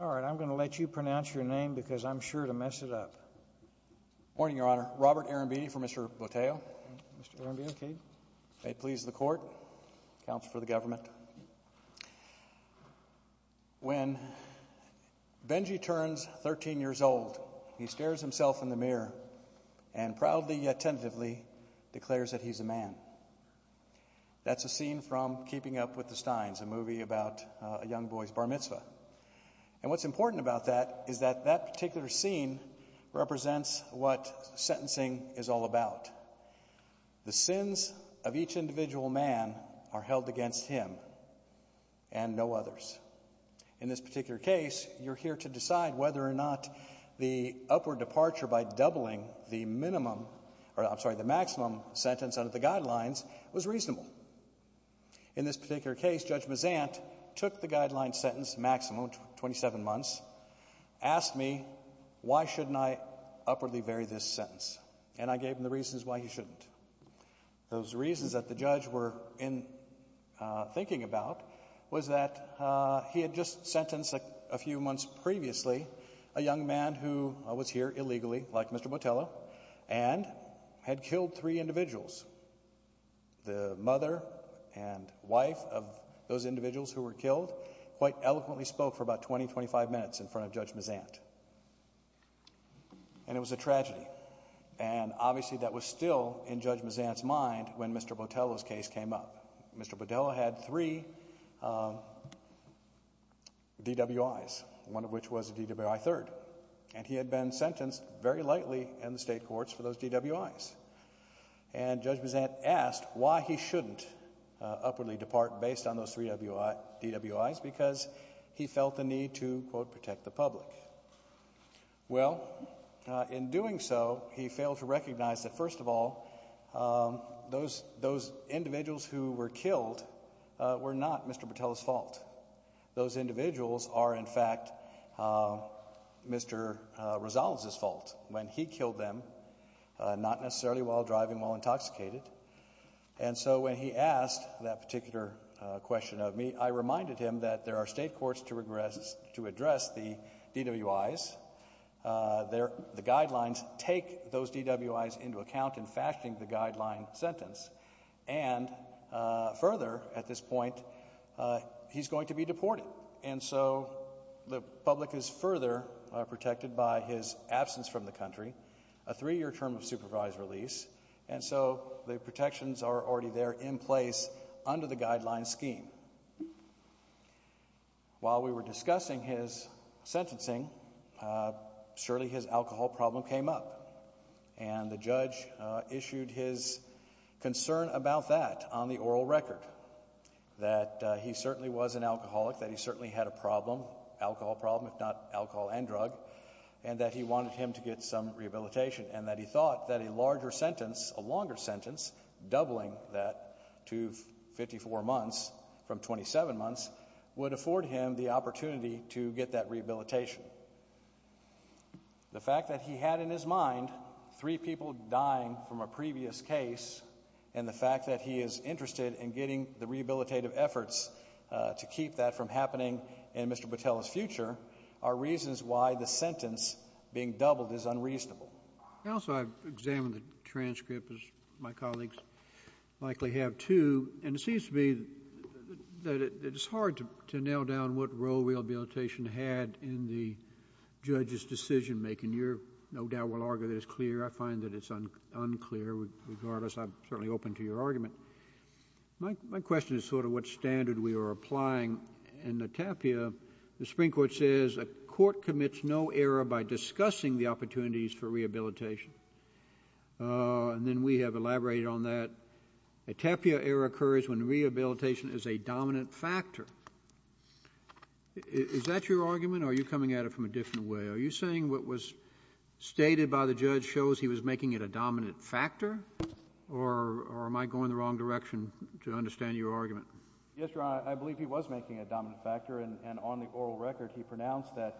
All right, I'm going to let you pronounce your name because I'm sure to mess it up. Morning, Your Honor. Robert Arambidi for Mr. Botello. Okay. May it please the Court, Counsel for the Government. When Benji turns 13 years old, he stares himself in the mirror and proudly yet tentatively declares that he's a man. That's a scene from Keeping Up with the Steins, a movie about a young boy's bar mitzvah. And what's important about that is that that particular scene represents what sentencing is all about. The sins of each individual man are held against him and no others. In this particular case, you're here to decide whether or not the upward departure by doubling the minimum, or I'm sorry, the maximum sentence under the guidelines was reasonable. In this particular case, Judge Mazant took the guideline sentence maximum, 27 months, asked me why shouldn't I upwardly vary this sentence, and I gave him the reasons why he shouldn't. Those reasons that the judge were thinking about was that he had just sentenced a few months previously a young man who was here illegally, like Mr. Botello, and had killed three individuals. The mother and wife of those individuals who were killed quite eloquently spoke for about 20, 25 minutes in front of Judge Mazant. And it was a tragedy. And obviously that was still in Judge Mazant's mind when Mr. Botello's case came up. Mr. Botello had three DWIs, one of which was a DWI third, and he had been sentenced very lightly in the state courts for those DWIs. And Judge Mazant asked why he shouldn't upwardly depart based on those three DWIs because he felt the need to, quote, protect the public. Well, in doing so, he failed to recognize that, first of all, those individuals who were killed were not Mr. Botello's fault. Those individuals are, in fact, Mr. Rosales's fault when he killed them, not necessarily while driving while intoxicated. And so when he asked that particular question of me, I reminded him that there are state courts to address the DWIs. The guidelines take those DWIs into account in fashioning the guideline sentence. And further, at this point, he's going to be deported. And so the public is further protected by his absence from the country, a three-year term of supervised release. And so the protections are already there in place under the guideline scheme. While we were discussing his sentencing, surely his alcohol problem came up. And the judge issued his concern about that on the oral record, that he certainly was an alcoholic, that he certainly had a problem, alcohol problem, if not alcohol and drug, and that he wanted him to get some rehabilitation, and that he thought that a larger sentence, a longer sentence, doubling that to 54 months from 27 months, would afford him the opportunity to get that rehabilitation. The fact that he had in his mind three people dying from a previous case, and the fact that he is interested in getting the rehabilitative efforts to keep that from happening in Mr. Patel's future, are reasons why the sentence being doubled is unreasonable. Counsel, I've examined the transcript, as my colleagues likely have too, and it seems to me that it's hard to nail down what role rehabilitation had in the judge's decision-making. You no doubt will argue that it's clear. I find that it's unclear. Regardless, I'm certainly open to your argument. My question is sort of what standard we are applying. In the TAPIA, the Supreme Court says a court commits no error by discussing the opportunities for rehabilitation. And then we have elaborated on that. A TAPIA error occurs when rehabilitation is a dominant factor. Is that your argument, or are you coming at it from a different way? Are you saying what was stated by the judge shows he was making it a dominant factor, or am I going in the wrong direction to understand your argument? Yes, Your Honor, I believe he was making it a dominant factor, and on the oral record he pronounced that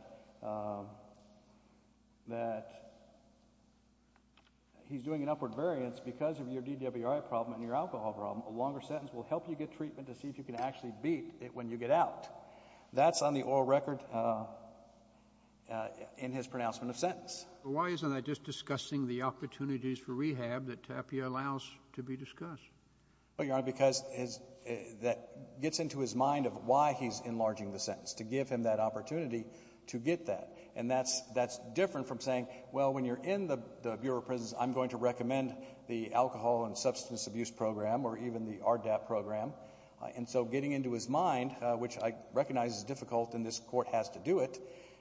he's doing an upward variance because of your DWI problem and your alcohol problem. A longer sentence will help you get treatment to see if you can actually beat it when you get out. That's on the oral record in his pronouncement of sentence. Why isn't that just discussing the opportunities for rehab that TAPIA allows to be discussed? Well, Your Honor, because that gets into his mind of why he's enlarging the sentence, to give him that opportunity to get that. And that's different from saying, well, when you're in the Bureau of Prisons, I'm going to recommend the alcohol and substance abuse program or even the RDAP program. And so getting into his mind, which I recognize is difficult and this Court has to do it,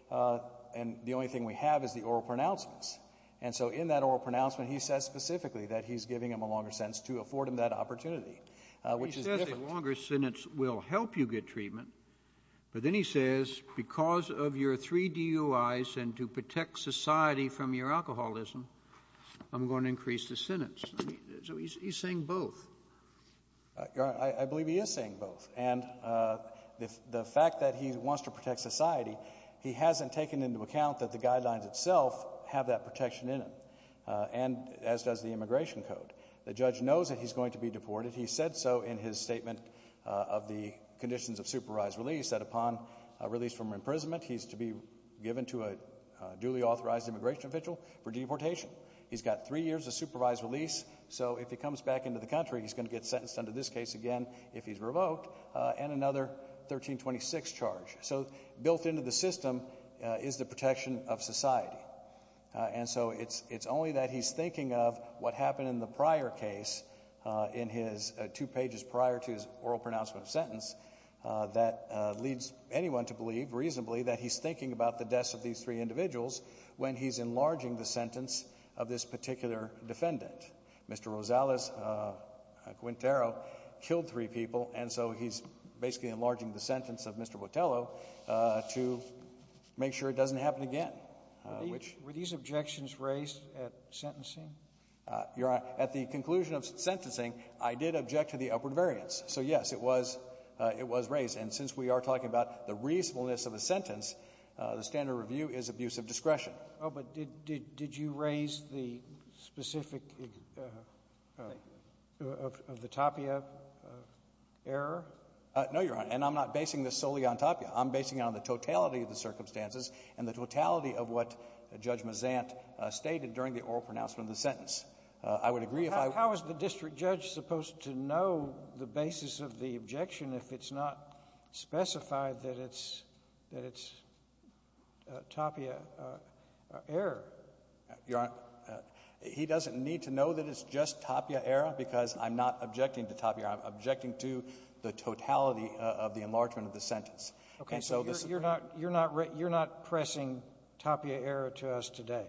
and the only thing we have is the oral pronouncements. And so in that oral pronouncement, he says specifically that he's giving him a longer sentence to afford him that opportunity, which is different. He says a longer sentence will help you get treatment, but then he says because of your three DUIs and to protect society from your alcoholism, I'm going to increase the sentence. So he's saying both. I believe he is saying both. And the fact that he wants to protect society, he hasn't taken into account that the guidelines itself have that protection in them, as does the immigration code. The judge knows that he's going to be deported. He said so in his statement of the conditions of supervised release, that upon release from imprisonment, he's to be given to a duly authorized immigration official for deportation. He's got three years of supervised release, so if he comes back into the country he's going to get sentenced under this case again if he's revoked and another 1326 charge. So built into the system is the protection of society. And so it's only that he's thinking of what happened in the prior case, in his two pages prior to his oral pronouncement of sentence, that leads anyone to believe reasonably that he's thinking about the deaths of these three individuals when he's enlarging the sentence of this particular defendant. Mr. Rosales, Quintero, killed three people, and so he's basically enlarging the sentence of Mr. Botello to make sure it doesn't happen again, which — Were these objections raised at sentencing? Your Honor, at the conclusion of sentencing, I did object to the upward variance. So, yes, it was — it was raised. And since we are talking about the reasonableness of a sentence, the standard review is abuse of discretion. Oh, but did you raise the specific — of the Tapia error? And I'm not basing this solely on Tapia. I'm basing it on the totality of the circumstances and the totality of what Judge Mazant stated during the oral pronouncement of the sentence. I would agree if I — How is the district judge supposed to know the basis of the objection if it's not specified that it's — that it's Tapia error? Your Honor, he doesn't need to know that it's just Tapia error because I'm not objecting to Tapia. I'm objecting to the totality of the enlargement of the sentence. Okay. So you're not — you're not pressing Tapia error to us today.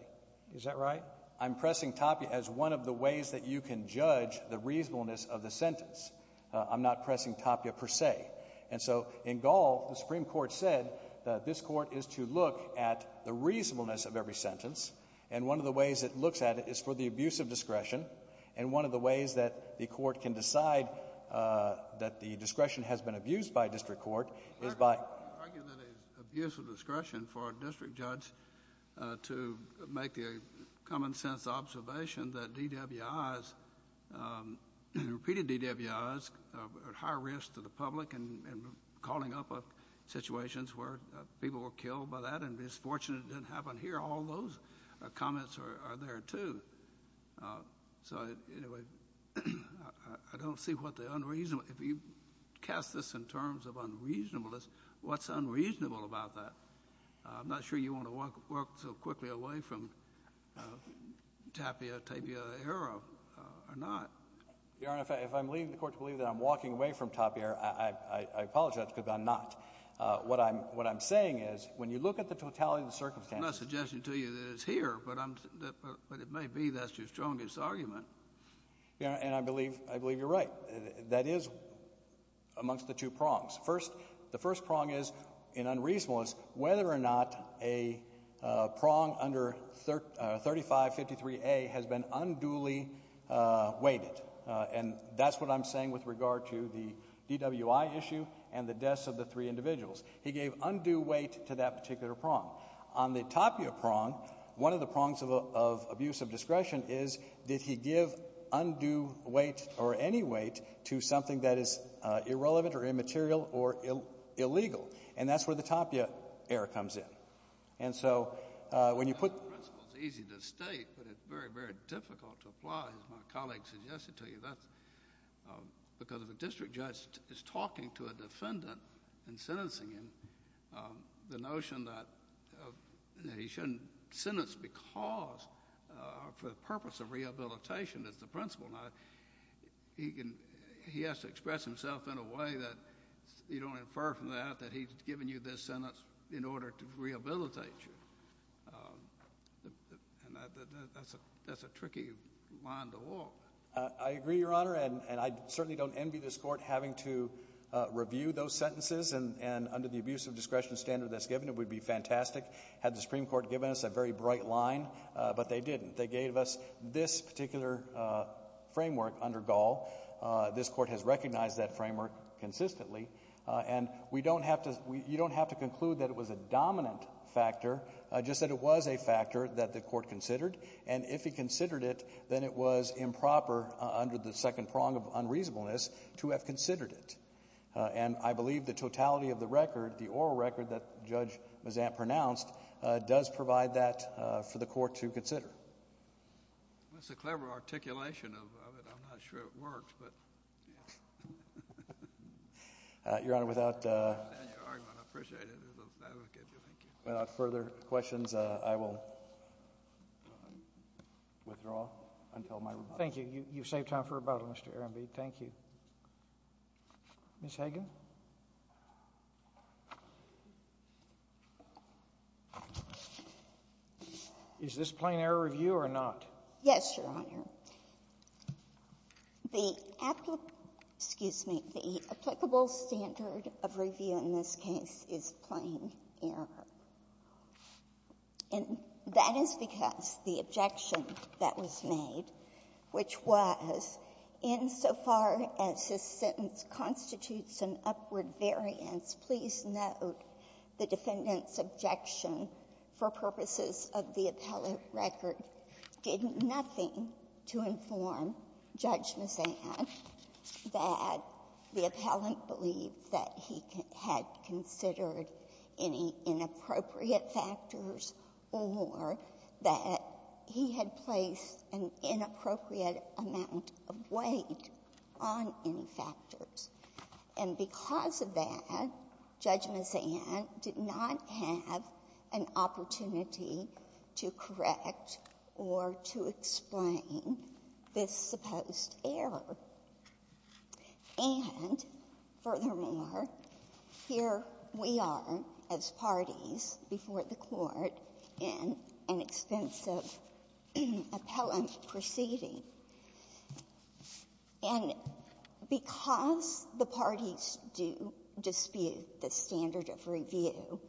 Is that right? I'm pressing Tapia as one of the ways that you can judge the reasonableness of the sentence. I'm not pressing Tapia per se. And so in Gall, the Supreme Court said that this Court is to look at the reasonableness of every sentence. And one of the ways it looks at it is for the abuse of discretion. And one of the ways that the Court can decide that the discretion has been abused by a district court is by — I argue that it is abuse of discretion for a district judge to make the common sense observation that DWIs, repeated DWIs are at higher risk to the public and calling up situations where people were killed by that. And it's fortunate it didn't happen here. All those comments are there too. So anyway, I don't see what the unreasonable — if you cast this in terms of unreasonableness, what's unreasonable about that? I'm not sure you want to walk so quickly away from Tapia, Tapia error or not. Your Honor, if I'm leading the Court to believe that I'm walking away from Tapia error, I apologize because I'm not. What I'm saying is when you look at the totality of the circumstances — I'm not suggesting to you that it's here, but it may be that's your strongest argument. Your Honor, and I believe you're right. That is amongst the two prongs. The first prong is in unreasonableness whether or not a prong under 3553A has been unduly weighted. And that's what I'm saying with regard to the DWI issue and the deaths of the three individuals. He gave undue weight to that particular prong. On the Tapia prong, one of the prongs of abuse of discretion is did he give undue weight or any weight to something that is irrelevant or immaterial or illegal. And that's where the Tapia error comes in. And so when you put — That principle is easy to state, but it's very, very difficult to apply, as my colleague suggested to you. Because if a district judge is talking to a defendant and sentencing him, the notion that he shouldn't sentence because for the purpose of rehabilitation is the principle. Now, he has to express himself in a way that you don't infer from that that he's given you this sentence in order to rehabilitate you. And that's a tricky line to walk. I agree, Your Honor. And I certainly don't envy this Court having to review those sentences. And under the abuse of discretion standard that's given, it would be fantastic had the Supreme Court given us a very bright line. But they didn't. They gave us this particular framework under Gall. This Court has recognized that framework consistently. And we don't have to — you don't have to conclude that it was a dominant factor, just that it was a factor that the Court considered. And if he considered it, then it was improper under the second prong of unreasonableness to have considered it. And I believe the totality of the record, the oral record that Judge Mazant pronounced, does provide that for the Court to consider. That's a clever articulation of it. I'm not sure it works, but — Your Honor, without — I understand your argument. I appreciate it as an advocate. Thank you. Without further questions, I will withdraw until my rebuttal. Thank you. You've saved time for rebuttal, Mr. Arambi. Thank you. Ms. Hagan. Is this plain error review or not? Yes, Your Honor. The applicable — excuse me. The applicable standard of review in this case is plain error. And that is because the objection that was made, which was, insofar as this sentence constitutes an upward variance, please note the defendant's objection for purposes of the appellate record did nothing to inform Judge Mazant that the appellant believed that he had considered any inappropriate factors or that he had placed an inappropriate amount of weight on any factors. And because of that, Judge Mazant did not have an opportunity to correct or to explain this supposed error. And furthermore, here we are as parties before the Court in an expensive appellant proceeding. And because the parties do dispute the standard of review,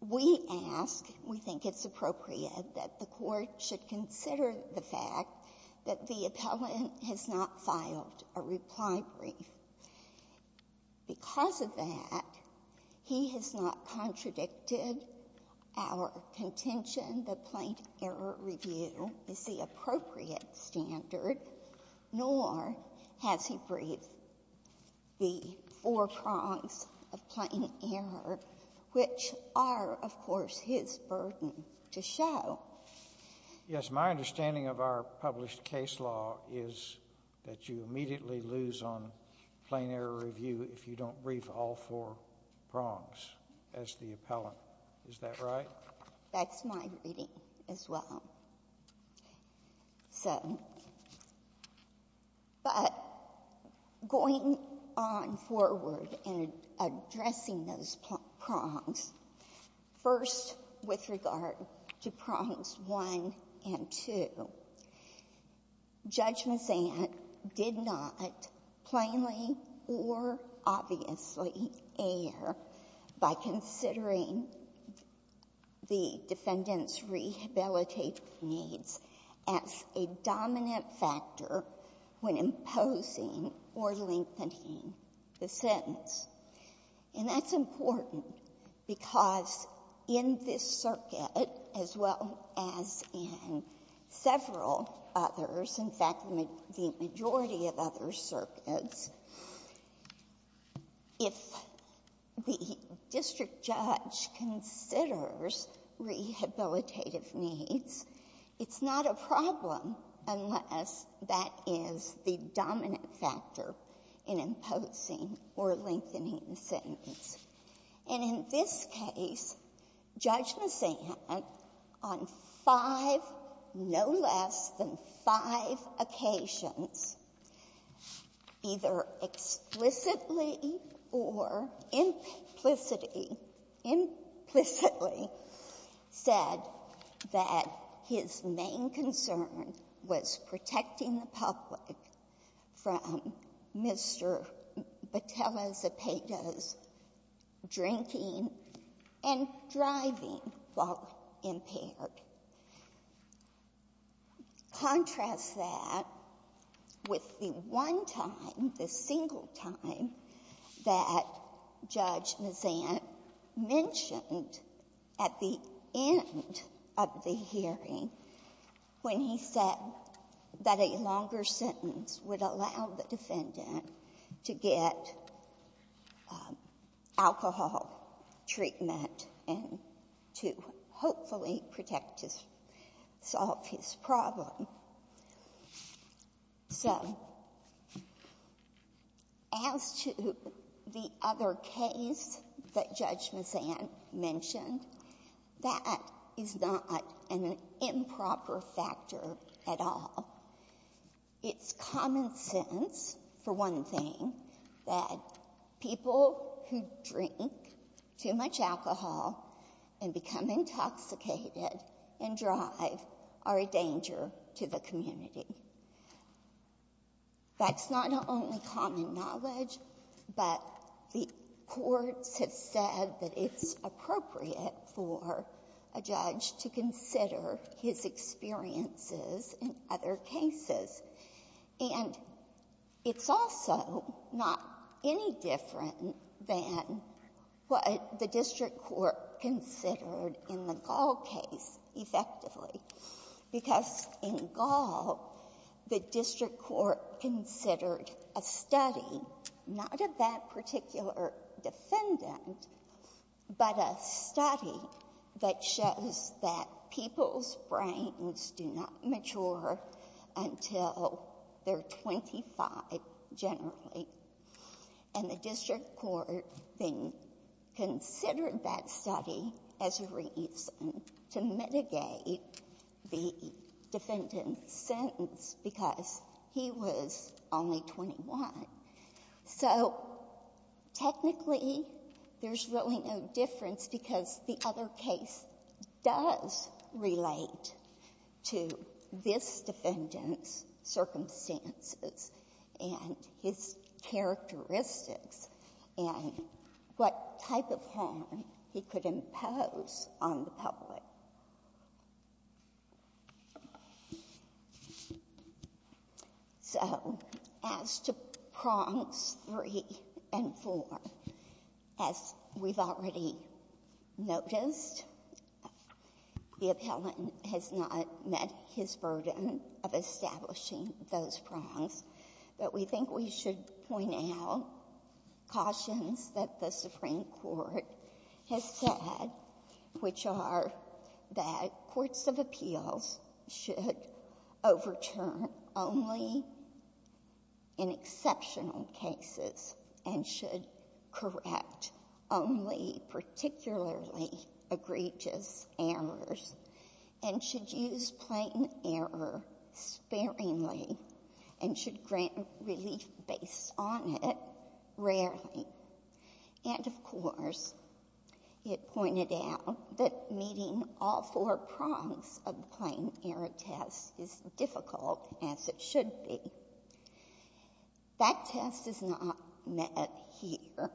we ask, we think it's appropriate that the Court should consider the fact that the appellant has not filed a reply brief. Because of that, he has not contradicted our contention that plain error review is the appropriate standard, nor has he breathed the four prongs of plain error, which are, of course, his burden to show. Yes. My understanding of our published case law is that you immediately lose on plain error review if you don't brief all four prongs as the appellant. Is that right? That's my reading as well. So, but going on forward and addressing those prongs, first with regard to prongs 1 and 2, Judge Mazant did not plainly or obviously err by considering the defendant's needs as a dominant factor when imposing or lengthening the sentence. And that's important because in this circuit, as well as in several others, in fact, the majority of other circuits, if the district judge considers rehabilitative needs, it's not a problem unless that is the dominant factor in imposing or lengthening the sentence. And in this case, Judge Mazant, on five, no less than five occasions, either explicitly or implicitly, implicitly said that his main concern was protecting the public from Mr. Batella-Zapata's drinking and driving while impaired. Contrast that with the one time, the single time that Judge Mazant mentioned at the end of the hearing when he said that a longer sentence would allow the defendant to get alcohol treatment and to hopefully protect his — solve his problem. So as to the other case that Judge Mazant mentioned, that is not an improper factor at all. It's common sense, for one thing, that people who drink too much alcohol and become intoxicated and drive are a danger to the community. That's not only common knowledge, but the courts have said that it's appropriate for a judge to consider his experiences in other cases. And it's also not any different than what the district court considered in the Gall case, effectively, because in Gall, the district court considered a study, not of that particular defendant, but a study that shows that people's brains do not mature until they're 25, generally. And the district court then considered that study as a reason to mitigate the defendant's sentence because he was only 21. So technically, there's really no difference because the other case does relate to this defendant's circumstances and his characteristics and what type of harm he could impose on the public. So as to prompts 3 and 4, as we've already noticed, the appellant has said that the Supreme Court has not met his burden of establishing those prompts. But we think we should point out cautions that the Supreme Court has said, which are that courts of appeals should overturn only in exceptional cases and should correct only particularly egregious errors and should use plain error sparingly and should grant relief based on it rarely. And, of course, it pointed out that meeting all four prompts of the plain error test is difficult, as it should be. That test is not met here.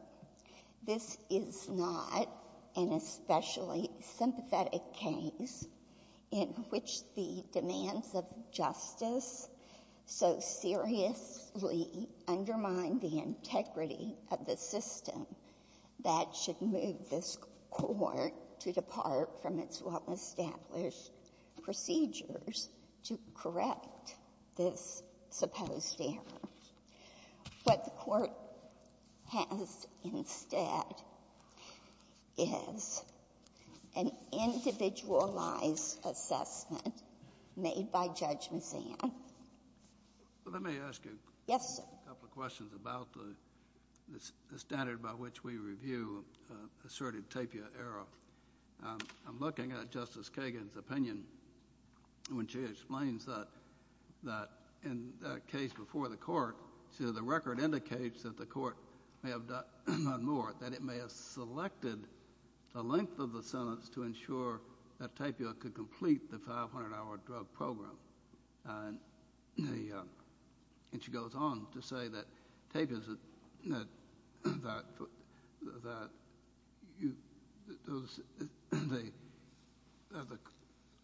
This is not an especially sympathetic case in which the demands of justice so seriously undermine the integrity of the system that should move this Court to depart from its well-established procedures to correct this supposed error. What the Court has instead is an individualized assessment made by Judge Mazzano. Let me ask you a couple of questions about the standard by which we review asserted tapia error. I'm looking at Justice Kagan's opinion when she explains that in that case before the Court, the record indicates that the Court may have done more, that it may have selected the length of the sentence to ensure that tapia could complete the 500-hour drug program. And she goes on to say that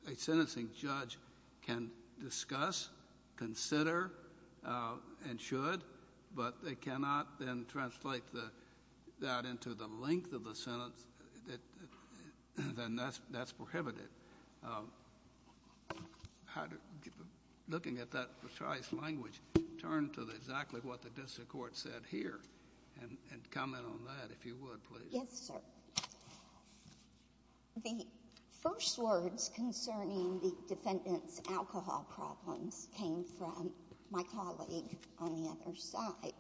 a sentencing judge can discuss, consider, and should, but they cannot then translate that into the length of the sentence. Then that's prohibited. Looking at that precise language, turn to exactly what the district court said here and comment on that, if you would, please. Yes, sir. The first words concerning the defendant's alcohol problems came from my colleague on the other side.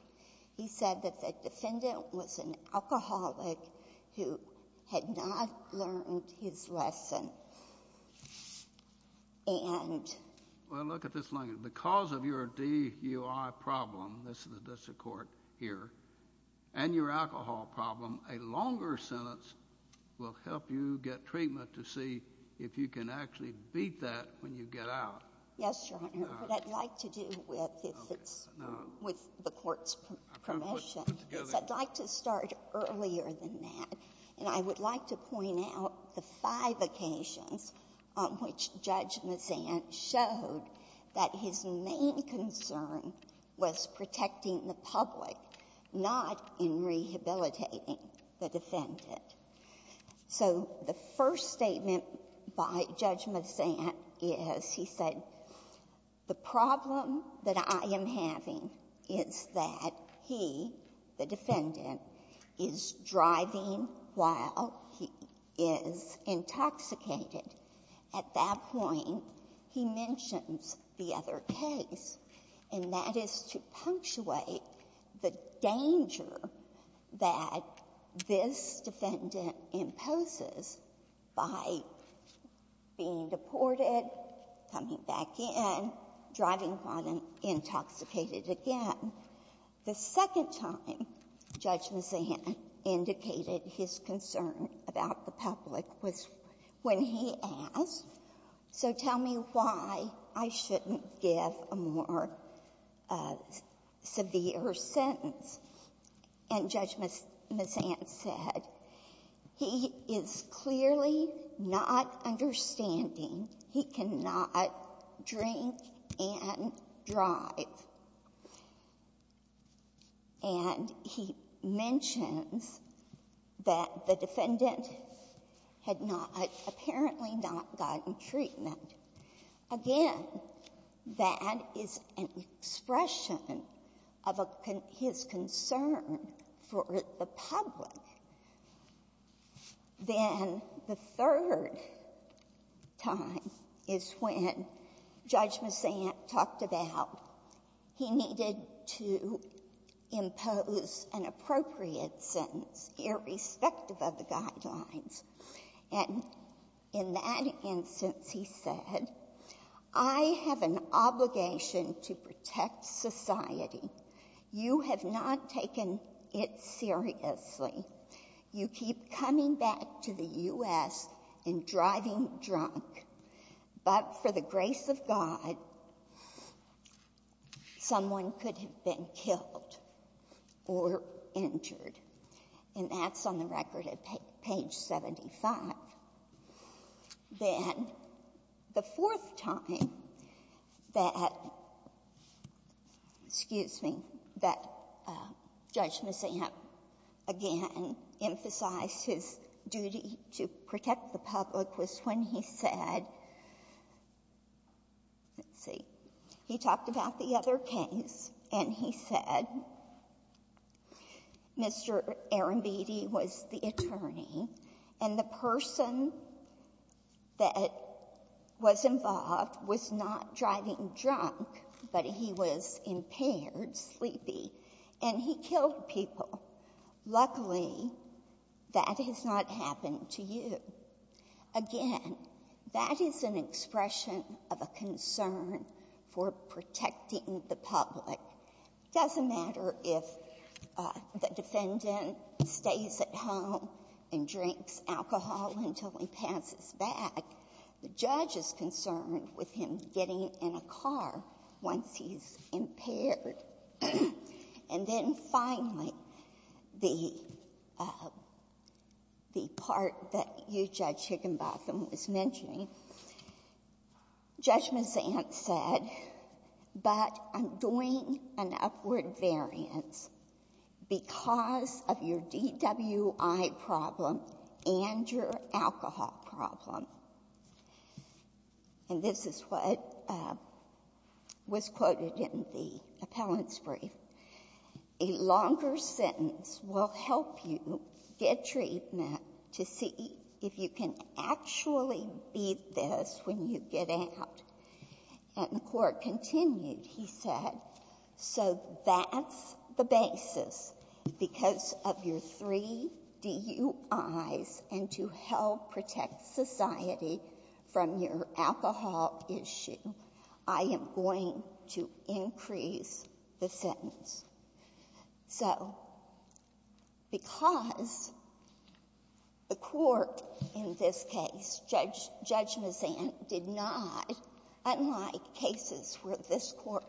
He said that the defendant was an alcoholic who had not learned his lesson. Well, look at this language. Because of your DUI problem, this is the district court here, and your alcohol problem, a longer sentence will help you get treatment to see if you can actually beat that when you get out. Yes, Your Honor. What I'd like to do with this is, with the Court's permission, is I'd like to start earlier than that, and I would like to point out the five occasions on which Judge Mazant showed that his main concern was protecting the public, not in rehabilitating the defendant. So the first statement by Judge Mazant is he said, the problem that I am having is that he, the defendant, is driving while he is intoxicated. At that point, he mentions the other case, and that is to punctuate the danger that this defendant imposes by being deported, coming back in, driving while intoxicated again. The second time Judge Mazant indicated his concern about the public was when he asked, so tell me why I shouldn't give a more severe sentence. And Judge Mazant said, he is clearly not understanding. He cannot drink and drive. And he mentions that the defendant had not, apparently not gotten treatment. Again, that is an expression of his concern for the public. Then the third time is when Judge Mazant talked about he needed to impose an appropriate sentence, irrespective of the guidelines. And in that instance, he said, I have an obligation to protect society. You have not taken it seriously. You keep coming back to the U.S. and driving drunk. But for the grace of God, someone could have been killed or injured. And that's on the record at page 75. Then the fourth time that, excuse me, that Judge Mazant again emphasized his duty to protect the public was when he said, let's see, he talked about the other case and he said, Mr. Arambidi was the attorney and the person that was involved was not driving drunk, but he was impaired, sleepy, and he killed people. Luckily, that has not happened to you. Again, that is an expression of a concern for protecting the public. It doesn't matter if the defendant stays at home and drinks alcohol until he passes back. The judge is concerned with him getting in a car once he's impaired. And then finally, the part that you, Judge Higginbotham, was mentioning, Judge Mazant said, but I'm doing an upward variance because of your DWI problem and your alcohol problem. And this is what was quoted in the appellant's brief. A longer sentence will help you get treatment to see if you can actually beat this when you get out. And the Court continued, he said, so that's the basis because of your three DUIs and to help protect society from your alcohol issue, I am going to increase the sentence. So because the Court in this case, Judge Mazant, did not, unlike cases where this court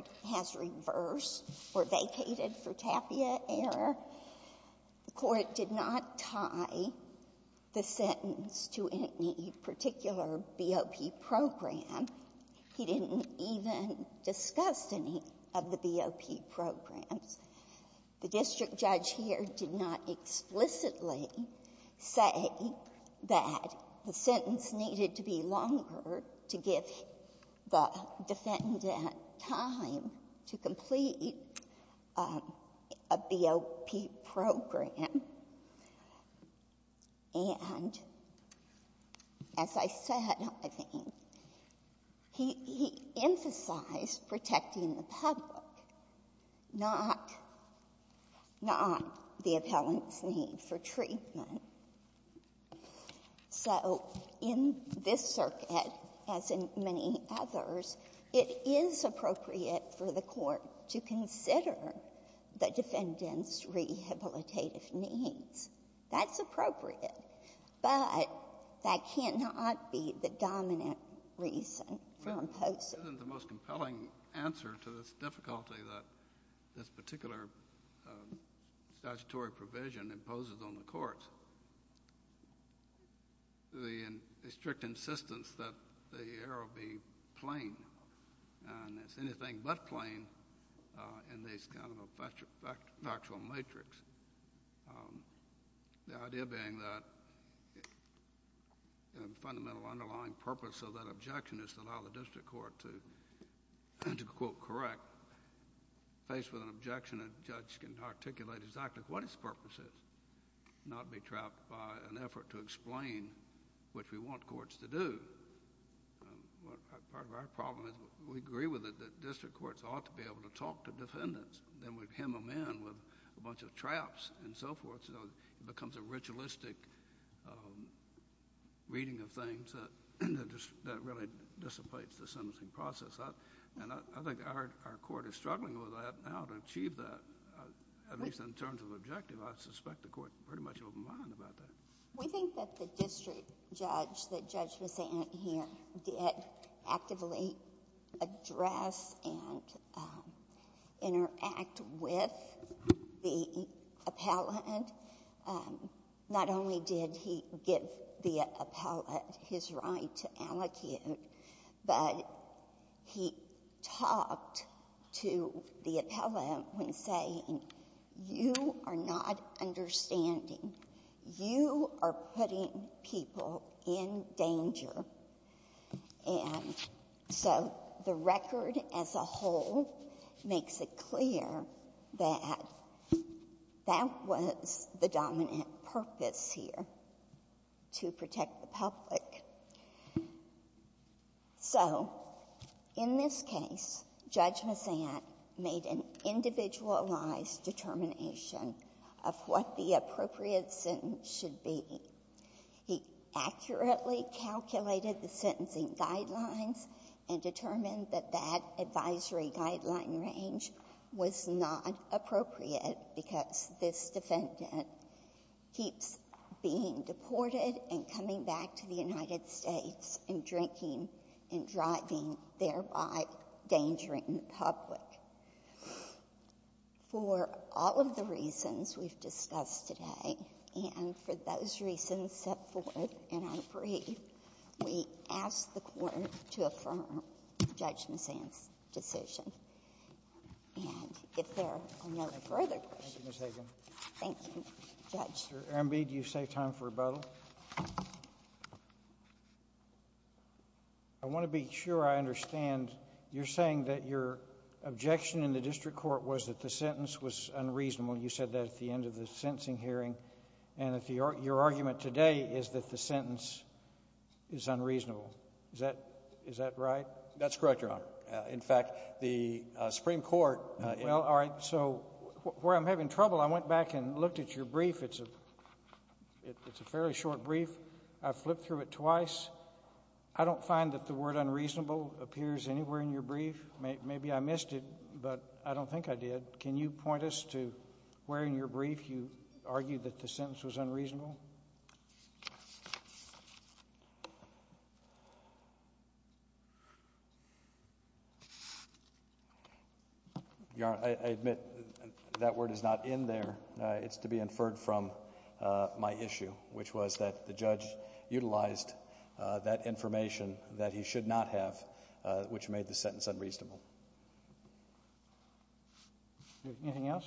did not tie the sentence to any particular BOP program. He didn't even discuss any of the BOP programs. The district judge here did not explicitly say that the sentence needed to be longer to give the defendant time to complete a BOP program. And as I said, I think, he emphasized protecting the public, not the appellant's need for treatment. So in this circuit, as in many others, it is appropriate for the Court to consider the defendant's rehabilitative needs. That's appropriate. But that cannot be the dominant reason for imposing. Well, isn't the most compelling answer to this difficulty that this particular statutory provision imposes on the courts the strict insistence that the error be plain and it's anything but plain in this kind of factual matrix. The idea being that the fundamental underlying purpose of that objection is to allow the defendant to articulate exactly what his purpose is, not be trapped by an effort to explain, which we want courts to do. Part of our problem is we agree with it that district courts ought to be able to talk to defendants. Then we hem them in with a bunch of traps and so forth, so it becomes a ritualistic reading of things that really dissipates the sentencing process. I think our Court is struggling with that now to achieve that, at least in terms of objective. I suspect the Court is pretty much open-minded about that. We think that the district judge, that Judge Messant here, did actively address and interact with the appellant. Not only did he give the appellant his right to allocate, but he talked to the appellant when saying, you are not understanding. You are putting people in danger. And so the record as a whole makes it clear that that was the dominant purpose here, to protect the public. So in this case, Judge Messant made an individualized determination of what the appropriate sentence should be. He accurately calculated the sentencing guidelines and determined that that advisory guideline range was not appropriate because this defendant keeps being deported and coming back to the United States and drinking and driving, thereby endangering the public. For all of the reasons we've discussed today and for those reasons set forth in our brief, we ask the Court to affirm Judge Messant's decision. And if there are no further questions. Thank you, Ms. Hagan. Thank you, Judge. Mr. Arambi, do you say time for rebuttal? I want to be sure I understand. You're saying that your objection in the district court was that the sentence was unreasonable. You said that at the end of the sentencing hearing. And your argument today is that the sentence is unreasonable. Is that right? That's correct, Your Honor. In fact, the Supreme Court — Well, all right. So where I'm having trouble, I went back and looked at your brief. It's a fairly short brief. I flipped through it twice. I don't find that the word unreasonable appears anywhere in your brief. Maybe I missed it, but I don't think I did. Can you point us to where in your brief you argued that the sentence was unreasonable? Your Honor, I admit that word is not in there. It's to be inferred from my issue, which was that the judge utilized that information that he should not have, which made the sentence unreasonable. Anything else?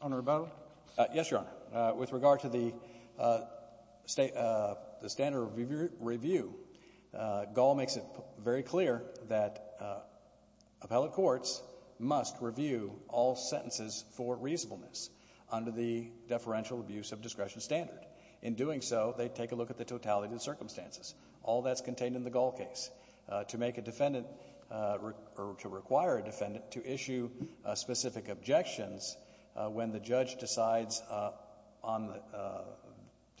Honor, rebuttal? Yes, Your Honor. With regard to the standard review, Gaul makes it very clear that appellate courts must review all sentences for reasonableness under the deferential abuse of discretion standard. In doing so, they take a look at the totality of the circumstances. All that's contained in the Gaul case. To make a defendant — or to require a defendant to issue specific objections when the judge decides to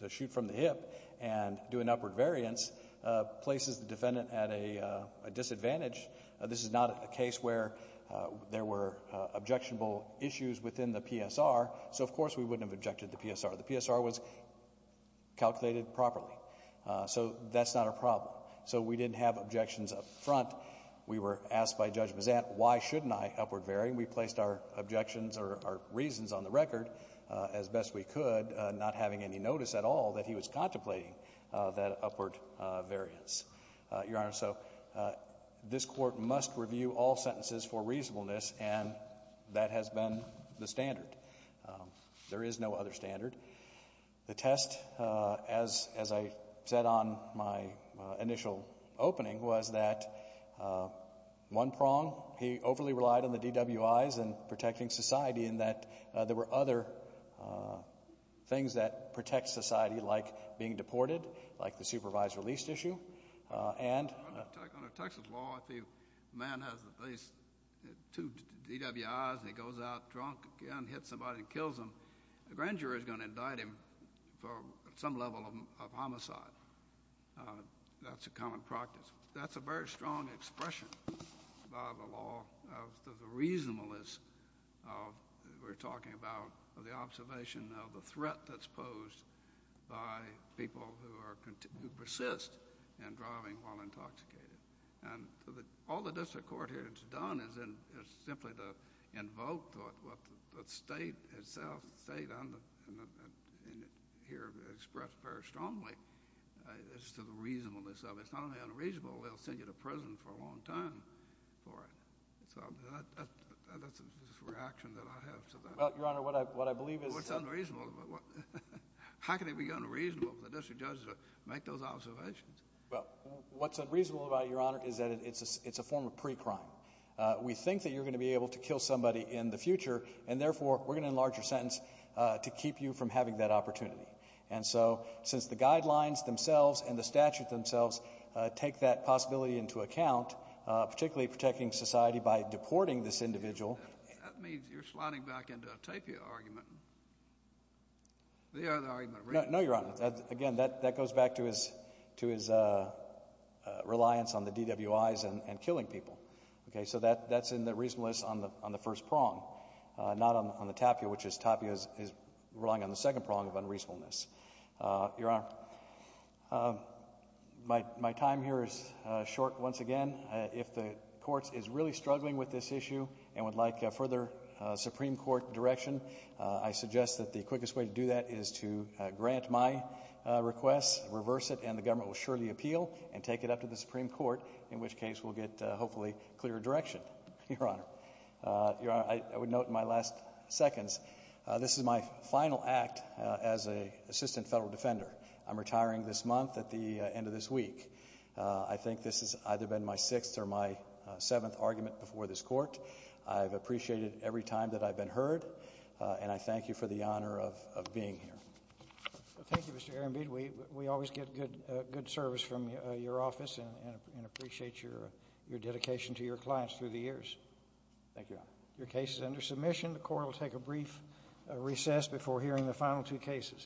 shoot from the hip and do an upward variance places the defendant at a disadvantage. This is not a case where there were objectionable issues within the PSR. So, of course, we wouldn't have objected to PSR. The PSR was calculated properly. So that's not a problem. So we didn't have objections up front. We were asked by Judge Bazant, why shouldn't I upward vary? We placed our objections or our reasons on the record as best we could, not having any notice at all that he was contemplating that upward variance. Your Honor, so this Court must review all sentences for reasonableness, and that has been the standard. There is no other standard. The test, as I said on my initial opening, was that one prong, he overly relied on the DWIs and protecting society in that there were other things that protect society, like being deported, like the supervised release issue. On a Texas law, if a man has at least two DWIs and he goes out drunk again, hits somebody and kills them, a grand jury is going to indict him for some level of homicide. That's a common practice. That's a very strong expression by the law of the reasonableness We're talking about the observation of the threat that's posed by people who persist in driving while intoxicated. All the district court here has done is simply to invoke what the state itself, the state here expressed very strongly as to the reasonableness of it. It's not only unreasonable, they'll send you to prison for a long time for it. That's the reaction that I have. Well, Your Honor, what I believe is What's unreasonable? How can it be unreasonable for the district judges to make those observations? What's unreasonable about it, Your Honor, is that it's a form of pre-crime. We think that you're going to be able to kill somebody in the future, and therefore we're going to enlarge your sentence to keep you from having that opportunity. Since the guidelines themselves and the statute themselves take that possibility into account, particularly protecting society by deporting this individual. That means you're sliding back into a Tapia argument. The other argument. No, Your Honor. Again, that goes back to his reliance on the DWIs and killing people. So that's in the reasonableness on the first prong, not on the Tapia, which Tapia is relying on the second prong of unreasonableness. Your Honor, my time here is short once again. If the court is really struggling with this issue and would like further Supreme Court direction, I suggest that the quickest way to do that is to grant my request, reverse it, and the government will surely appeal and take it up to the Supreme Court, in which case we'll get hopefully clearer direction, Your Honor. Your Honor, I would note in my last seconds, this is my final act as an assistant federal defender. I'm retiring this month at the end of this week. I think this has either been my sixth or my seventh argument before this court. I've appreciated every time that I've been heard, and I thank you for the honor of being here. Thank you, Mr. Ehrenbied. We always get good service from your office and appreciate your dedication to your clients through the years. Thank you, Your Honor. Your case is under submission. The court will take a brief recess before hearing the final two cases.